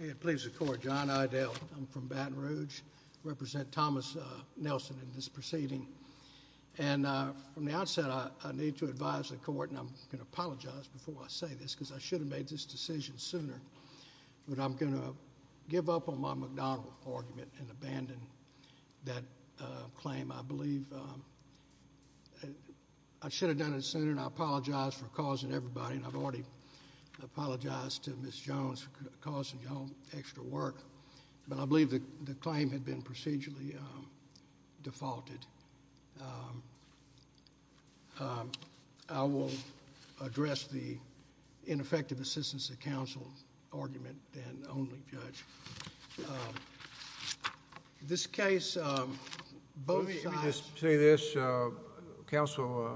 May it please the court, John Idale, I'm from Baton Rouge represent Thomas Nelson in this proceeding and from the outset I need to advise the court and I'm gonna apologize before I say this because I should have made this decision sooner but I'm gonna give up on my McDonnell argument and abandon that claim I believe I should have done it sooner and I apologize for causing everybody and I've already apologized to miss Jones causing y'all extra work but I believe that the claim had been procedurally defaulted I will address the ineffective assistance of counsel argument and only judge this case both sides say this counsel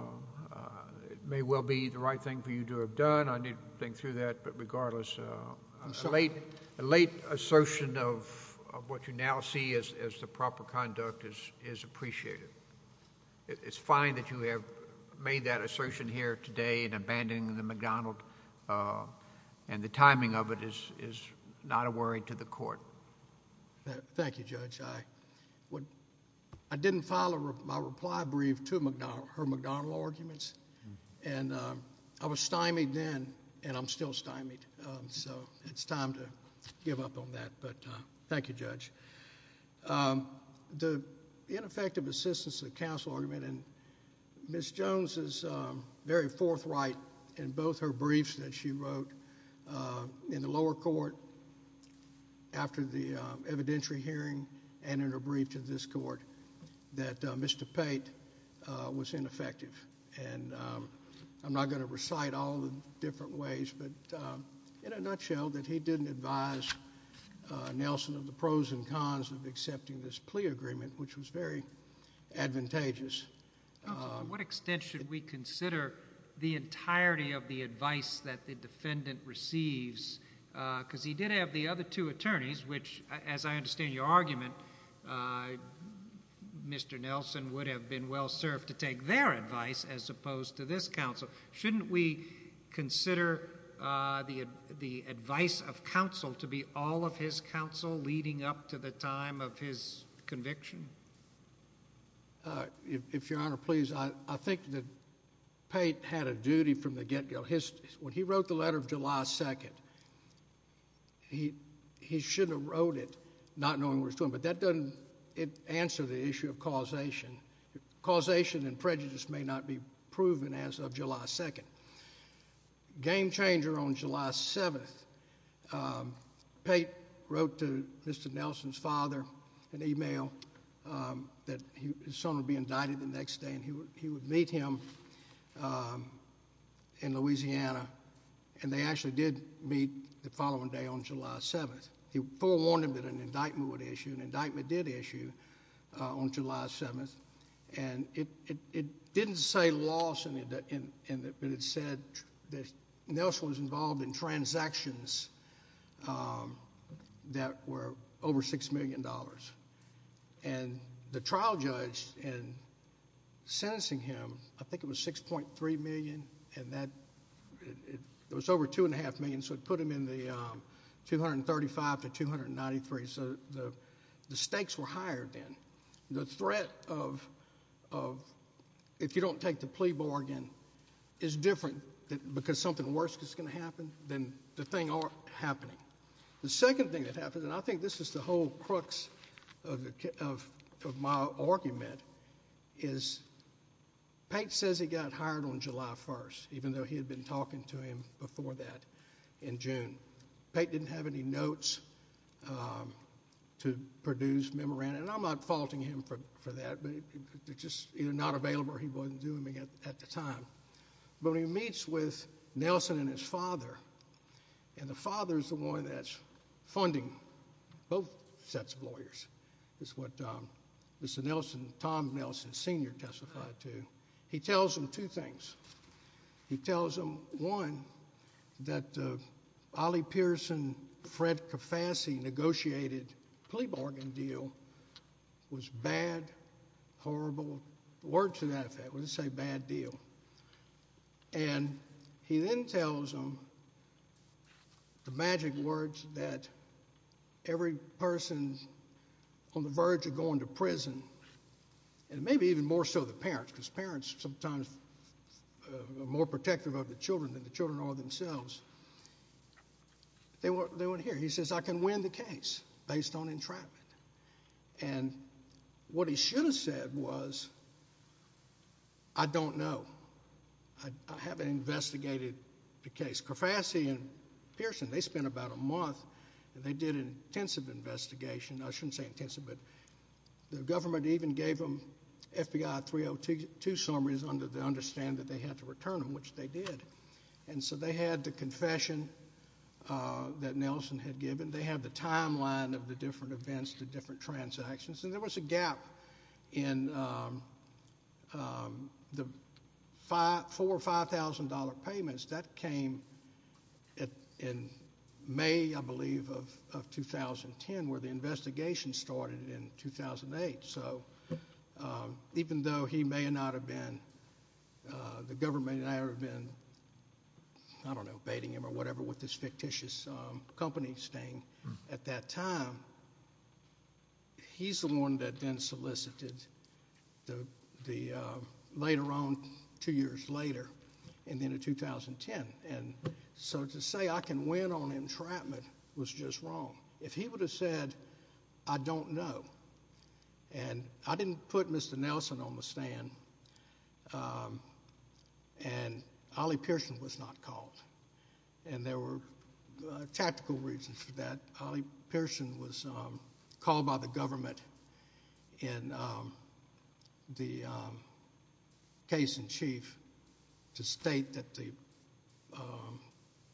it may well be the right thing for you to have done I need to think through that but regardless late late assertion of what you now see is as the proper conduct is is appreciated it's fine that you have made that assertion here today and abandoning the McDonald and the timing of it is is not a worry to the court thank you judge I what I was stymied then and I'm still stymied so it's time to give up on that but thank you judge the ineffective assistance of counsel argument and miss Jones is very forthright in both her briefs that she wrote in the lower court after the evidentiary hearing and in her brief to this court that Mr. Pate was ineffective and I'm not going to recite all the different ways but in a nutshell that he didn't advise Nelson of the pros and cons of accepting this plea agreement which was very advantageous what extent should we consider the entirety of the advice that the defendant receives because he did have the other two attorneys which as I understand your argument mr. Nelson would have been well served to take their advice as opposed to this counsel shouldn't we consider the advice of counsel to be all of his counsel leading up to the time of his conviction if your honor please I think that Pate had a duty from the get-go his when he wrote the letter of July 2nd he he should have wrote it not knowing what he was doing but that doesn't answer the issue of causation causation and prejudice may not be proven as of July 2nd game-changer on July 7th Pate wrote to Mr. Nelson's father an email that his son would be indicted the next day and he would meet him in Louisiana and they actually did meet the following day on July 7th he forewarned him that an indictment would issue an indictment did issue on July 7th and it didn't say loss in it but it said that Nelson was involved in transactions that were over six million dollars and the trial judge in sentencing him I think it was six point three million and it was over two and a half million so it put him in the 235 to 293 so the stakes were higher then the threat of if you don't take the plea bargain is different because something worse is going to happen then the thing aren't happening the second thing that happens and I think this is the whole crux of my argument is Pate says he got hired on July 1st even though he had been talking to him before that in June Pate didn't have any notes to produce memorandum and I'm not faulting him for that but it's just either not available or he wasn't doing it at the time but he meets with Nelson and his father and the father is the one that's funding both sets of lawyers is what Mr. Nelson, Tom Nelson Sr. testified to he tells them two things he tells them one that Ollie Pearson, Fred Kafassi negotiated plea bargain deal was bad horrible word to say bad deal and he then tells them the magic words that every person on the verge of going to prison and maybe even more so the parents because parents sometimes are more protective of the children than the children are themselves they weren't here he says I can win the case based on I don't know I haven't investigated the case Kafassi and Pearson they spent about a month and they did an intensive investigation I shouldn't say intensive but the government even gave them FBI 302 summaries under the understand that they had to return them which they did and so they had the confession that Nelson had given they have the timeline of the different events the different transactions and there was a gap in the four or five thousand dollar payments that came in May I believe of 2010 where the investigation started in 2008 so even though he may not have been the government had never been I don't know baiting him or whatever with this fictitious company staying at that time he's the one that then solicited the later on two years later and then in 2010 and so to say I can win on entrapment was just wrong if he would have said I don't know and I didn't put Mr. Nelson on the stand and Ollie Pearson was not called and there were tactical reasons that Ollie Pearson was called by the government in the case in chief to state that the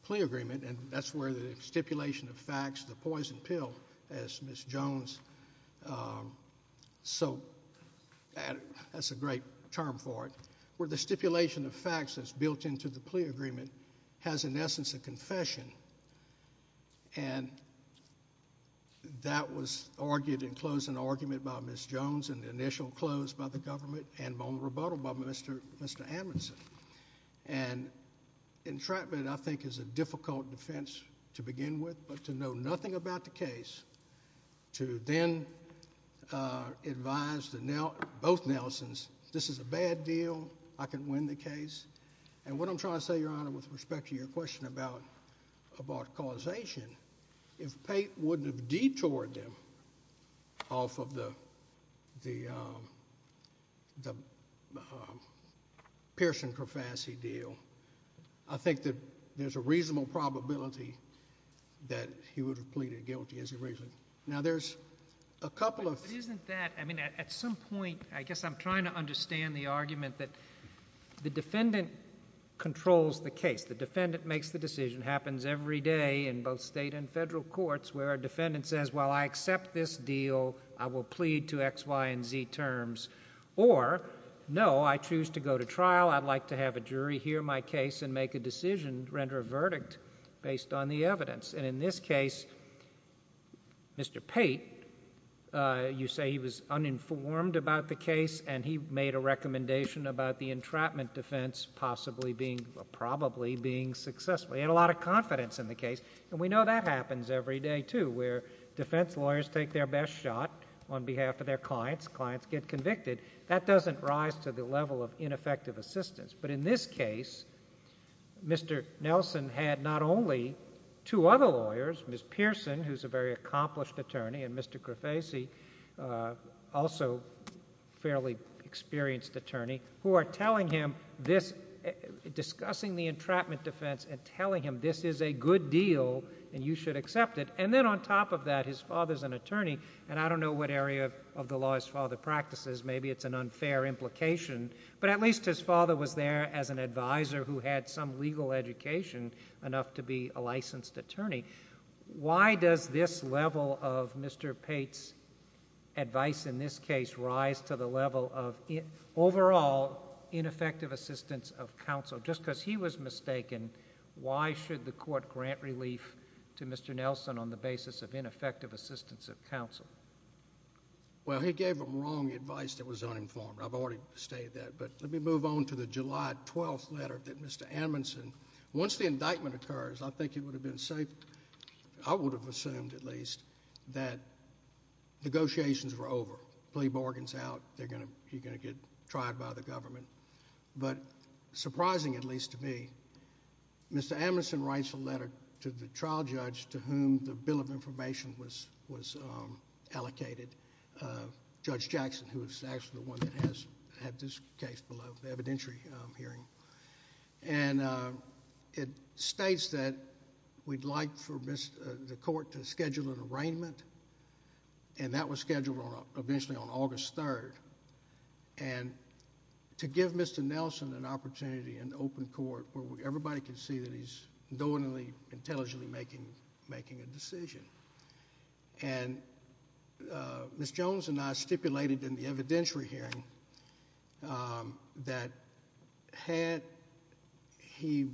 plea agreement and that's where the stipulation of facts the poison pill as Ms. Jones so that's a great term for it where the stipulation of facts that's built into the plea agreement has an essence of confession and that was argued in closing argument by Ms. Jones and the initial close by the government and on rebuttal by Mr. Amundson and entrapment I think is a thing about the case to then advise both Nelsons this is a bad deal I can win the case and what I'm trying to say your honor with respect to your question about about causation if Pate wouldn't have detoured them off of the Pearson-Crofassi deal I think that there's a reasonable probability that he would have pleaded guilty as a reason now there's a couple of isn't that I mean at some point I guess I'm trying to understand the argument that the defendant controls the case the defendant makes the decision happens every day in both state and federal courts where a defendant says well I accept this deal I will plead to X Y & Z terms or no I choose to go to trial I'd like to have a jury hear my case and make a decision render a verdict based on the evidence and in this case Mr. Pate you say he was uninformed about the case and he made a recommendation about the entrapment defense possibly being probably being successful he had a lot of confidence in the case and we know that happens every day too where defense lawyers take their best shot on behalf of their clients clients get convicted that doesn't rise to the level of two other lawyers Miss Pearson who's a very accomplished attorney and Mr. Crofassi also fairly experienced attorney who are telling him this discussing the entrapment defense and telling him this is a good deal and you should accept it and then on top of that his father's an attorney and I don't know what area of the law his father practices maybe it's an unfair implication but at least his father was there as an advisor who had some legal education enough to be a licensed attorney why does this level of Mr. Pate's advice in this case rise to the level of overall ineffective assistance of counsel just because he was mistaken why should the court grant relief to Mr. Nelson on the basis of ineffective assistance of counsel well he gave them wrong advice that was uninformed I've already stated that but let me move on to the July 12th letter that Mr. Amundson once the indictment occurs I think it would have been safe I would have assumed at least that negotiations were over plea bargains out they're gonna you're gonna get tried by the government but surprising at least to me Mr. Amundson writes a letter to the trial judge to whom the Bill of Information was was allocated Judge and it states that we'd like for the court to schedule an arraignment and that was scheduled on eventually on August 3rd and to give Mr. Nelson an opportunity in open court where everybody can see that he's knowingly intelligently making making a decision and Miss Jones and I stipulated in the had he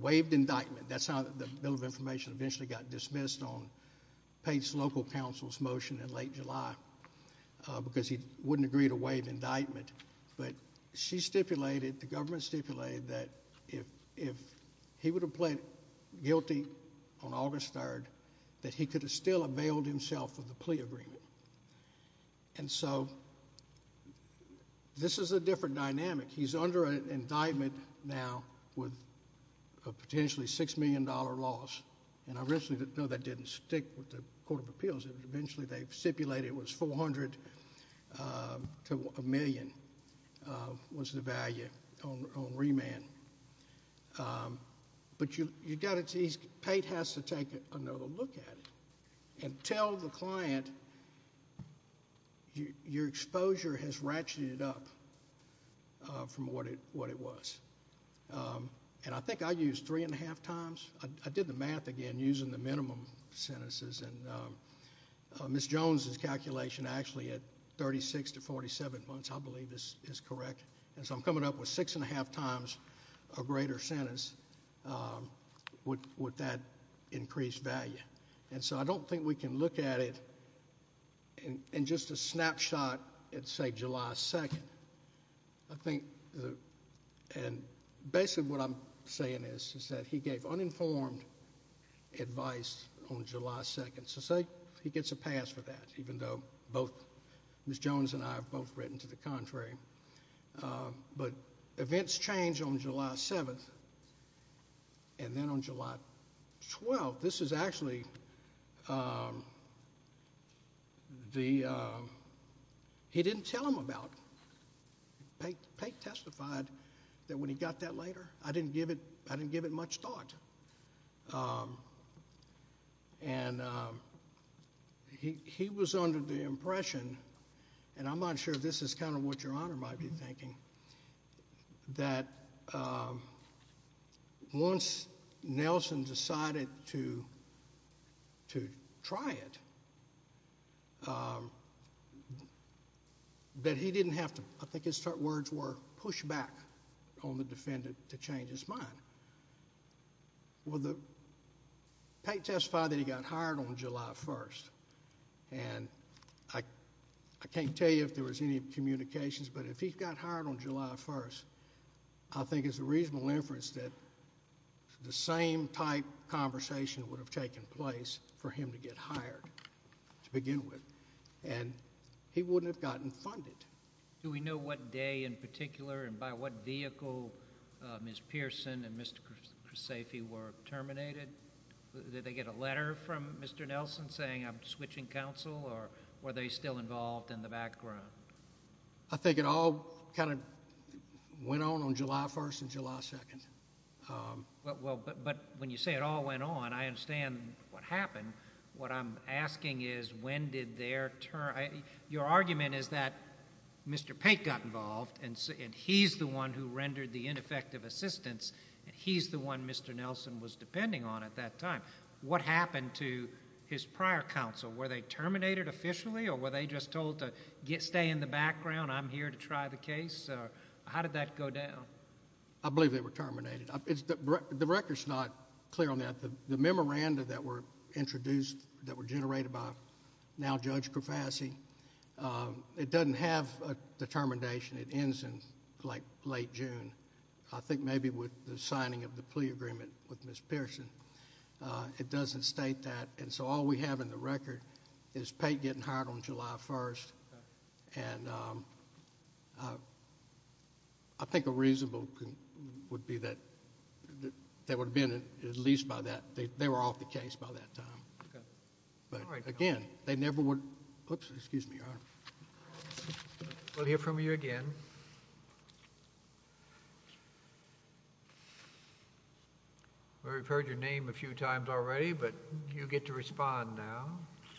waived indictment that's how the Bill of Information eventually got dismissed on Pate's local council's motion in late July because he wouldn't agree to waive indictment but she stipulated the government stipulated that if if he would have pled guilty on August 3rd that he could have still under an indictment now with a potentially six million dollar loss and I recently didn't know that didn't stick with the Court of Appeals eventually they've stipulated was 400 to a million was the value on remand but you you got it he's paid has to take another look at it and tell the client your exposure has ratcheted up from what it what it was and I think I used three and a half times I did the math again using the minimum sentences and Miss Jones's calculation actually at 36 to 47 months I believe this is correct and so I'm coming up with six and a half times a greater sentence with that increased value and so I don't think we can look at it and just a snapshot it's a July 2nd I think and basically what I'm saying is is that he gave uninformed advice on July 2nd so say he gets a pass for that even though both Miss Jones and I have both written to the contrary but events change on July 7th and then on July 8th he testified that when he got that later I didn't give it I didn't give it much thought and he was under the impression and I'm not sure this is kind of what your honor might be thinking that once Nelson decided to to try it that he didn't have to I think his words were push back on the defendant to change his mind well the testify that he got hired on July 1st and I can't tell you if there was any communications but if he got hired on July 1st I think it's a reasonable inference that the same type conversation would have taken place for him to get hired to begin with and he wouldn't have gotten funded do we know what day in particular and by what vehicle Miss Pearson and Mr. Kruseffi were terminated did they get a letter from Mr. Nelson saying I'm switching counsel or were they still involved in the background I think it all kind of went on on July 1st and July 2nd well but when you say it all went on I understand what happened what I'm asking is when did their turn your argument is that Mr. Pate got involved and he's the one who rendered the ineffective assistance and he's the one Mr. Nelson was depending on at that time what happened to his prior counsel were they terminated officially or were they just told to get stay in the background I'm here to try the case how did that go down I believe they were terminated the record's not clear on that the memorandum that were introduced that were generated by now Judge Krafassi it doesn't have a determination it ends in like late June I think maybe with the signing of the plea agreement with Miss Pearson it doesn't state that and so all we have in the record is Pate getting hired on July 1st and I think a reasonable would be that that would have been at least by that they were off the case by that time but again they never would excuse me we'll hear from you again we've heard your name a few times already but you get to respond now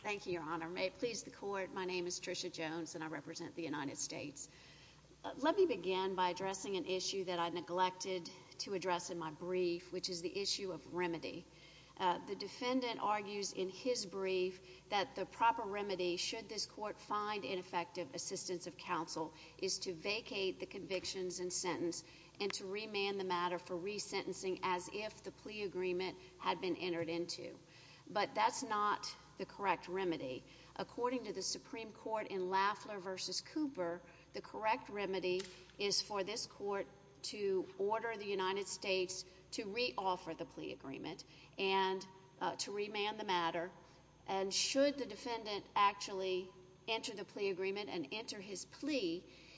thank you your honor may it please the court my name is Tricia Jones and I represent the United States let me begin by addressing an issue that I neglected to address in my brief which is the issue of remedy the defendant argues in his brief that the proper remedy should this court find ineffective assistance of counsel is to vacate the convictions and sentence and to remand the matter for resentencing as if the plea agreement had been entered into but that's not the correct remedy according to the Supreme Court in Lafler versus Cooper the correct remedy is for this court to order the United States to re-offer the plea agreement and to remand the matter and should the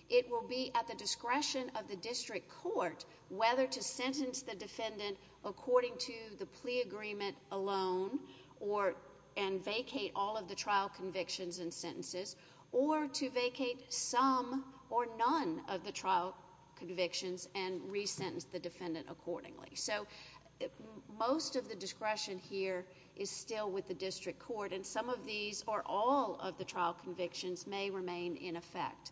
it will be at the discretion of the district court whether to sentence the defendant according to the plea agreement alone or and vacate all of the trial convictions and sentences or to vacate some or none of the trial convictions and recent the defendant accordingly so most of the discretion here is still with the district court and some of these are all of the trial convictions may remain in effect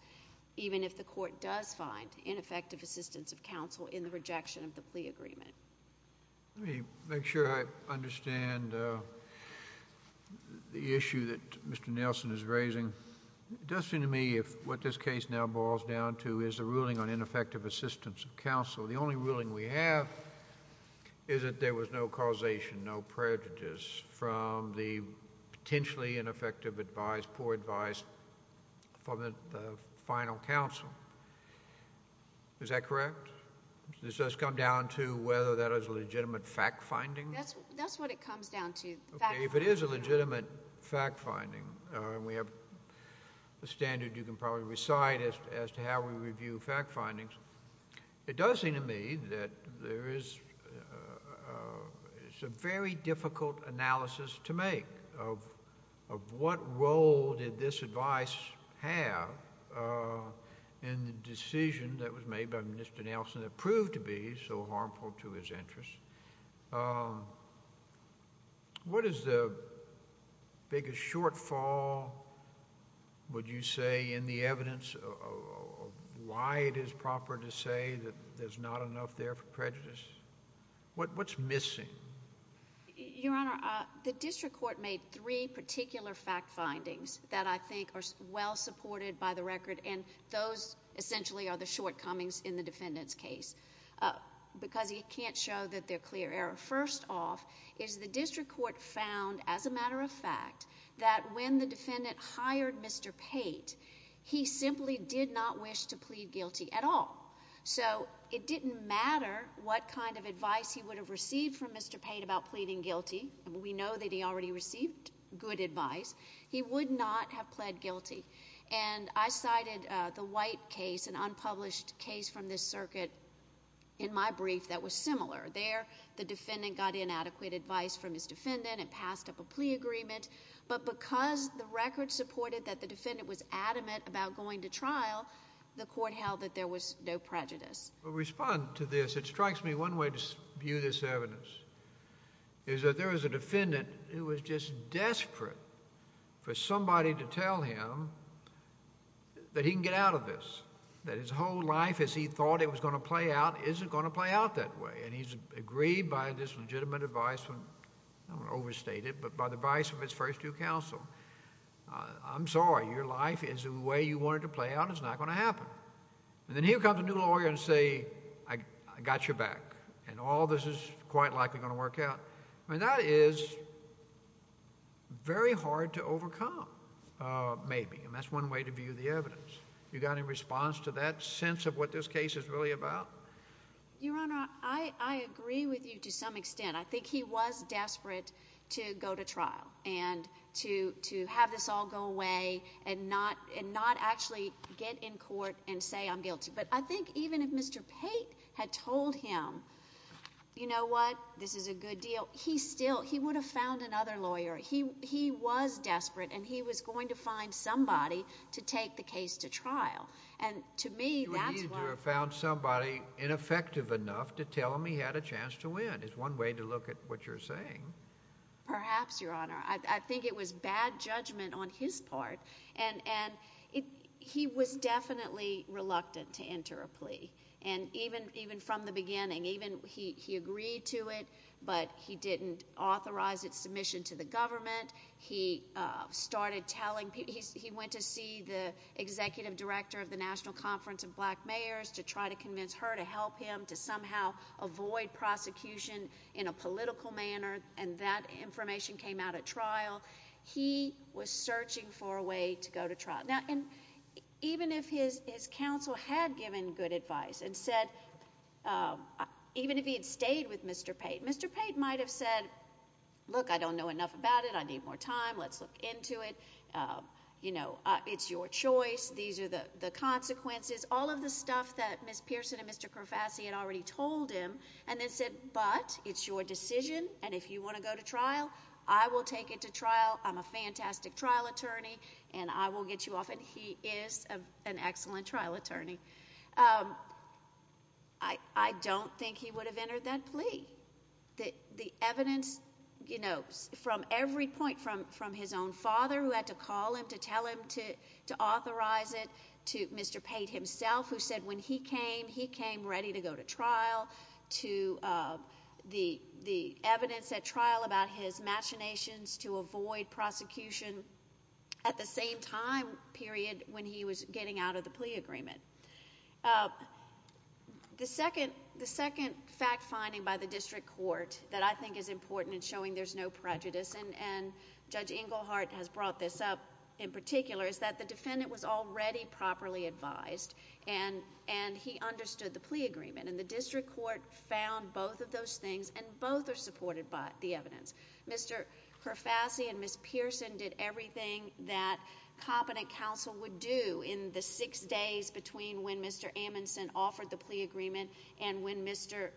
even if the court does find ineffective assistance of counsel in the rejection of the plea agreement make sure I understand the issue that Mr. Nelson is raising it does seem to me if what this case now boils down to is a ruling on ineffective assistance of counsel the only ruling we have is that there was no causation no prejudice from the final counsel is that correct this does come down to whether that is a legitimate fact-finding that's what it comes down to if it is a legitimate fact-finding we have the standard you can probably recite it as to how we review fact findings it does seem to me that there is it's a very difficult analysis to make of what role did this advice have in the decision that was made by Mr. Nelson that proved to be so harmful to his interest what is the biggest shortfall would you say in the evidence of why it is proper to say that there's not enough there for prejudice what's missing the district court made three particular fact findings that I think are well supported by the record and those essentially are the shortcomings in the defendant's case because you can't show that they're clear error first off is the district court found as a matter of fact that when the defendant hired Mr. Pate he simply did not wish to matter what kind of advice he would have received from Mr. Pate about pleading guilty we know that he already received good advice he would not have pled guilty and I cited the white case an unpublished case from this circuit in my brief that was similar there the defendant got inadequate advice from his defendant and passed up a plea agreement but because the record supported that the defendant was adamant about going to trial the court held that there was no prejudice respond to this it strikes me one way to view this evidence is that there is a defendant who was just desperate for somebody to tell him that he can get out of this that his whole life as he thought it was going to play out isn't going to play out that way and he's agreed by this legitimate advice when overstated but by the vice of his first to counsel I'm sorry your life is the way you wanted to play out it's not going to happen and then here comes a lawyer and say I got your back and all this is quite likely going to work out and that is very hard to overcome maybe and that's one way to view the evidence you got in response to that sense of what this case is really about your honor I I agree with you to some extent I think he was desperate to go to trial and to to have this all go away and not and not actually get in court and say I'm guilty but I think even if mr. Pate had told him you know what this is a good deal he still he would have found another lawyer he he was desperate and he was going to find somebody to take the case to trial and to me found somebody ineffective enough to tell me had a chance to win is one way to look at what you're saying perhaps your honor I think it was bad judgment on his part and and he was definitely reluctant to enter a plea and even even from the beginning even he agreed to it but he didn't authorize its submission to the government he started telling he went to see the executive director of the National Conference of Black Mayors to try to convince her to help him to somehow avoid prosecution in a political manner and that information came out at to go to trial now and even if his his counsel had given good advice and said even if he had stayed with mr. Pate mr. Pate might have said look I don't know enough about it I need more time let's look into it you know it's your choice these are the the consequences all of the stuff that miss Pearson and mr. Kravatsky had already told him and then said but it's your decision and if you take it to trial I'm a fantastic trial attorney and I will get you off and he is an excellent trial attorney I I don't think he would have entered that plea that the evidence you know from every point from from his own father who had to call him to tell him to to authorize it to mr. Pate himself who said when he came he came ready to go to trial to the the evidence at trial about his machinations to avoid prosecution at the same time period when he was getting out of the plea agreement the second the second fact finding by the district court that I think is important in showing there's no prejudice and and judge Inglehart has brought this up in particular is that the defendant was already properly advised and and he understood the plea agreement and the district court found both of those things and both are supported by the evidence mr. Kravatsky and miss Pearson did everything that competent counsel would do in the six days between when mr. Amundsen offered the plea agreement and when mr.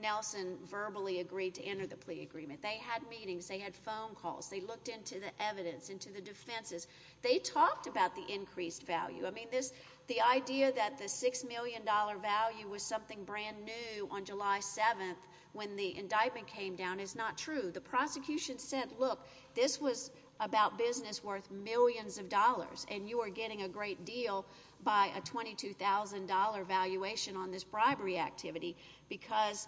Nelson verbally agreed to enter the plea agreement they had meetings they had phone calls they looked into the evidence into the defenses they talked about the increased value I mean this the idea that the six million dollar value was something brand new on July 7th when the indictment came down is not true the prosecution said look this was about business worth millions of dollars and you are getting a great deal by a $22,000 valuation on this bribery activity because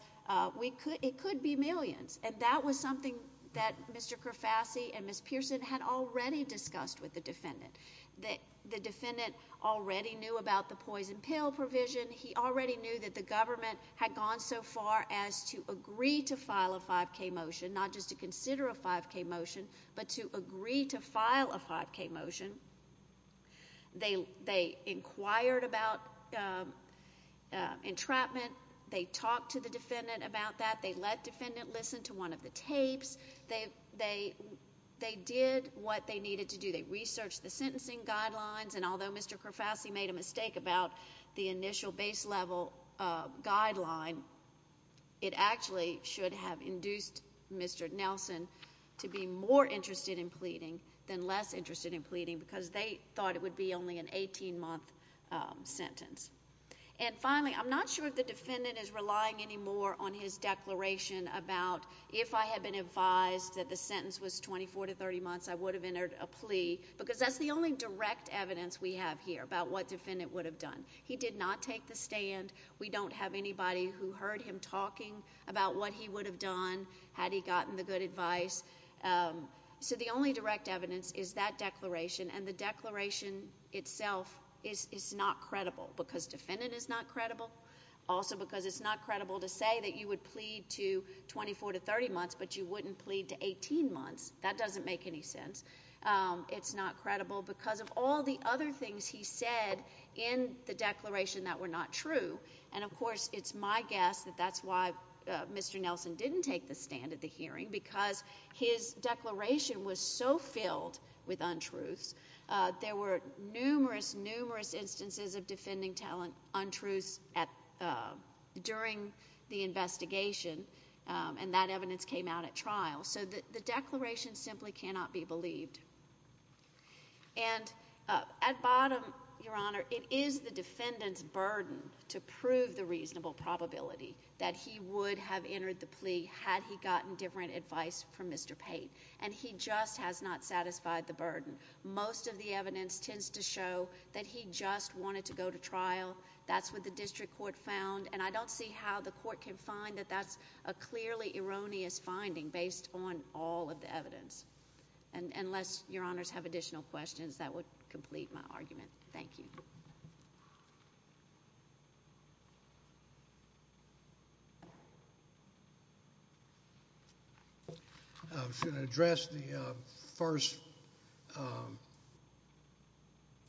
we could it could be millions and that was something that mr. Kravatsky and miss Pearson had already discussed with the defendant that the defendant already knew about the poison pill provision he already knew that the government had gone so far as to agree to file a 5k motion not just to consider a 5k motion but to agree to file a 5k motion they they inquired about entrapment they talked to the defendant about that they let defendant listen to one of the tapes they they they did what they needed to do the research the sentencing guidelines and although mr. Kravatsky made a mistake about the initial base level guideline it actually should have induced mr. Nelson to be more interested in pleading than less interested in pleading because they thought it would be only an 18 month sentence and finally I'm not sure if the defendant is relying anymore on his declaration about if I had been advised that the sentence was 24 to 30 months I would have entered a would have done he did not take the stand we don't have anybody who heard him talking about what he would have done had he gotten the good advice so the only direct evidence is that declaration and the declaration itself is not credible because defendant is not credible also because it's not credible to say that you would plead to 24 to 30 months but you wouldn't plead to 18 months that doesn't make any sense it's not credible because of all the other things he said in the declaration that were not true and of course it's my guess that that's why mr. Nelson didn't take the stand at the hearing because his declaration was so filled with untruths there were numerous numerous instances of defending talent untruths at during the investigation and that evidence came out at trial so that the declaration simply cannot be believed and at bottom your honor it is the defendant's burden to prove the reasonable probability that he would have entered the plea had he gotten different advice from mr. Pate and he just has not satisfied the burden most of the evidence tends to show that he just wanted to go to trial that's what the district court found and I don't see how the court can find that that's a your honors have additional questions that would complete my argument thank you address the first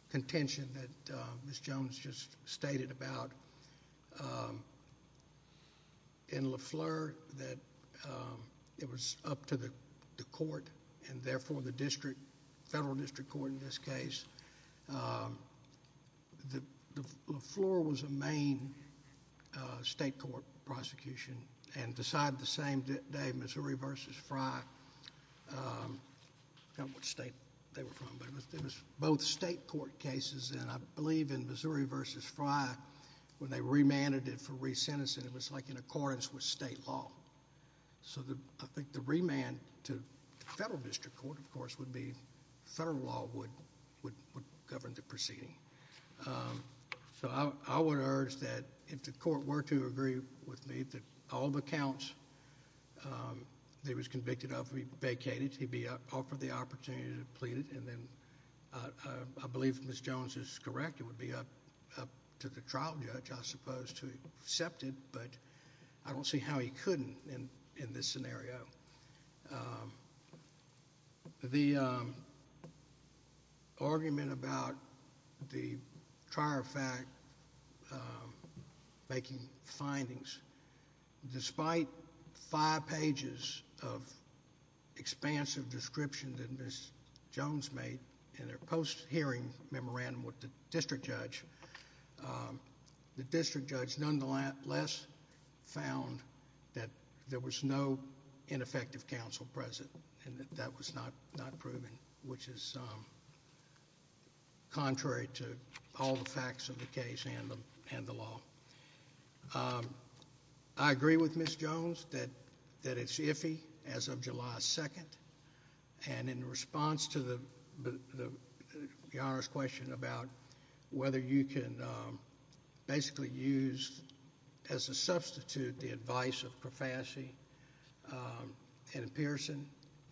contention that miss Jones just stated about in LeFleur that it was up to the court and therefore the district federal district court in this case the floor was a main state court prosecution and decide the same day Missouri vs. Frye both state court cases and I believe in Missouri vs. Frye when they remanded it it was like in accordance with state law so the I think the remand to federal district court of course would be federal law would would govern the proceeding so I would urge that if the court were to agree with me that all the counts they was convicted of we vacated he'd be up for the opportunity to plead it and then I believe miss Jones is correct it would be up to the trial judge I suppose to accept it but I don't see how he couldn't in in this scenario the argument about the trial fact making findings despite five pages of expansive description that miss Jones made in their post hearing memorandum with the district judge the district judge nonetheless found that there was no ineffective counsel present and that was not not proven which is contrary to all the facts of the case and the law I agree with miss Jones that that it's July 2nd and in response to the question about whether you can basically use as a substitute the advice of profanity and Pearson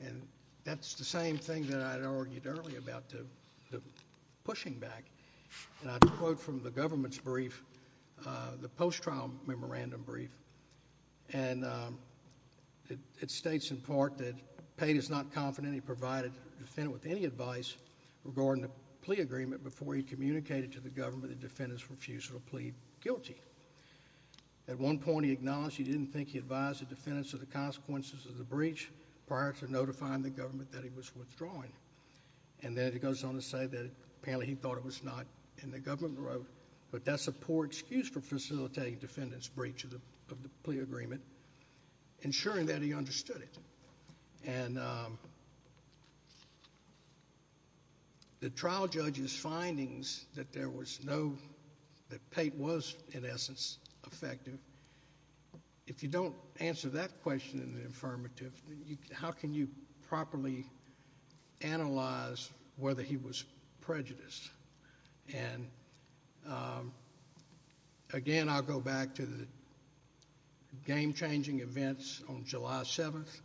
and that's the same thing that I argued earlier about the pushing back from the government's the post trial memorandum brief and it states in part that paid is not confident he provided defendant with any advice regarding the plea agreement before he communicated to the government the defendants refusal to plead guilty at one point he acknowledged he didn't think he advised the defendants of the consequences of the breach prior to notifying the government that he was withdrawing and then it goes on to say that apparently he thought it was not in the government wrote but that's a poor excuse for facilitating defendants breach of the plea agreement ensuring that he understood it and the trial judge's findings that there was no that paint was in essence effective if you don't answer that question in the affirmative how can you properly analyze whether he was prejudiced and again I'll go back to the game-changing events on July 7th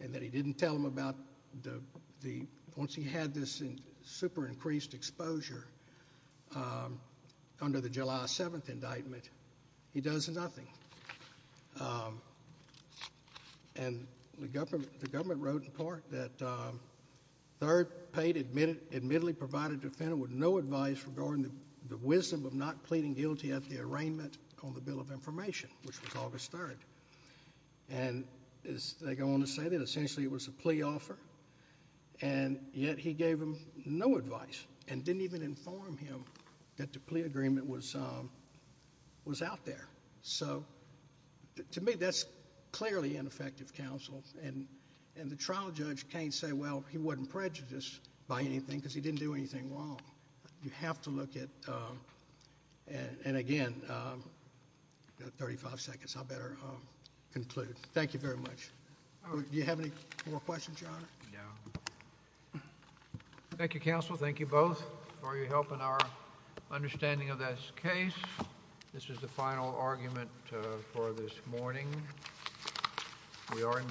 and that he didn't tell him about the the once he had this in super increased exposure under the July 7th indictment he does nothing and the government the third paid admitted admittedly provided defendant with no advice regarding the wisdom of not pleading guilty at the arraignment on the Bill of Information which was August 3rd and as they go on to say that essentially it was a plea offer and yet he gave him no advice and didn't even inform him that the plea agreement was was out there so to me that's clearly ineffective counsel and the trial judge can't say well he wasn't prejudiced by anything because he didn't do anything wrong you have to look at and again 35 seconds I better conclude thank you very much do you have any more questions yeah thank you counsel thank you both for your help in our understanding of this case this is the final argument for this morning we are in recess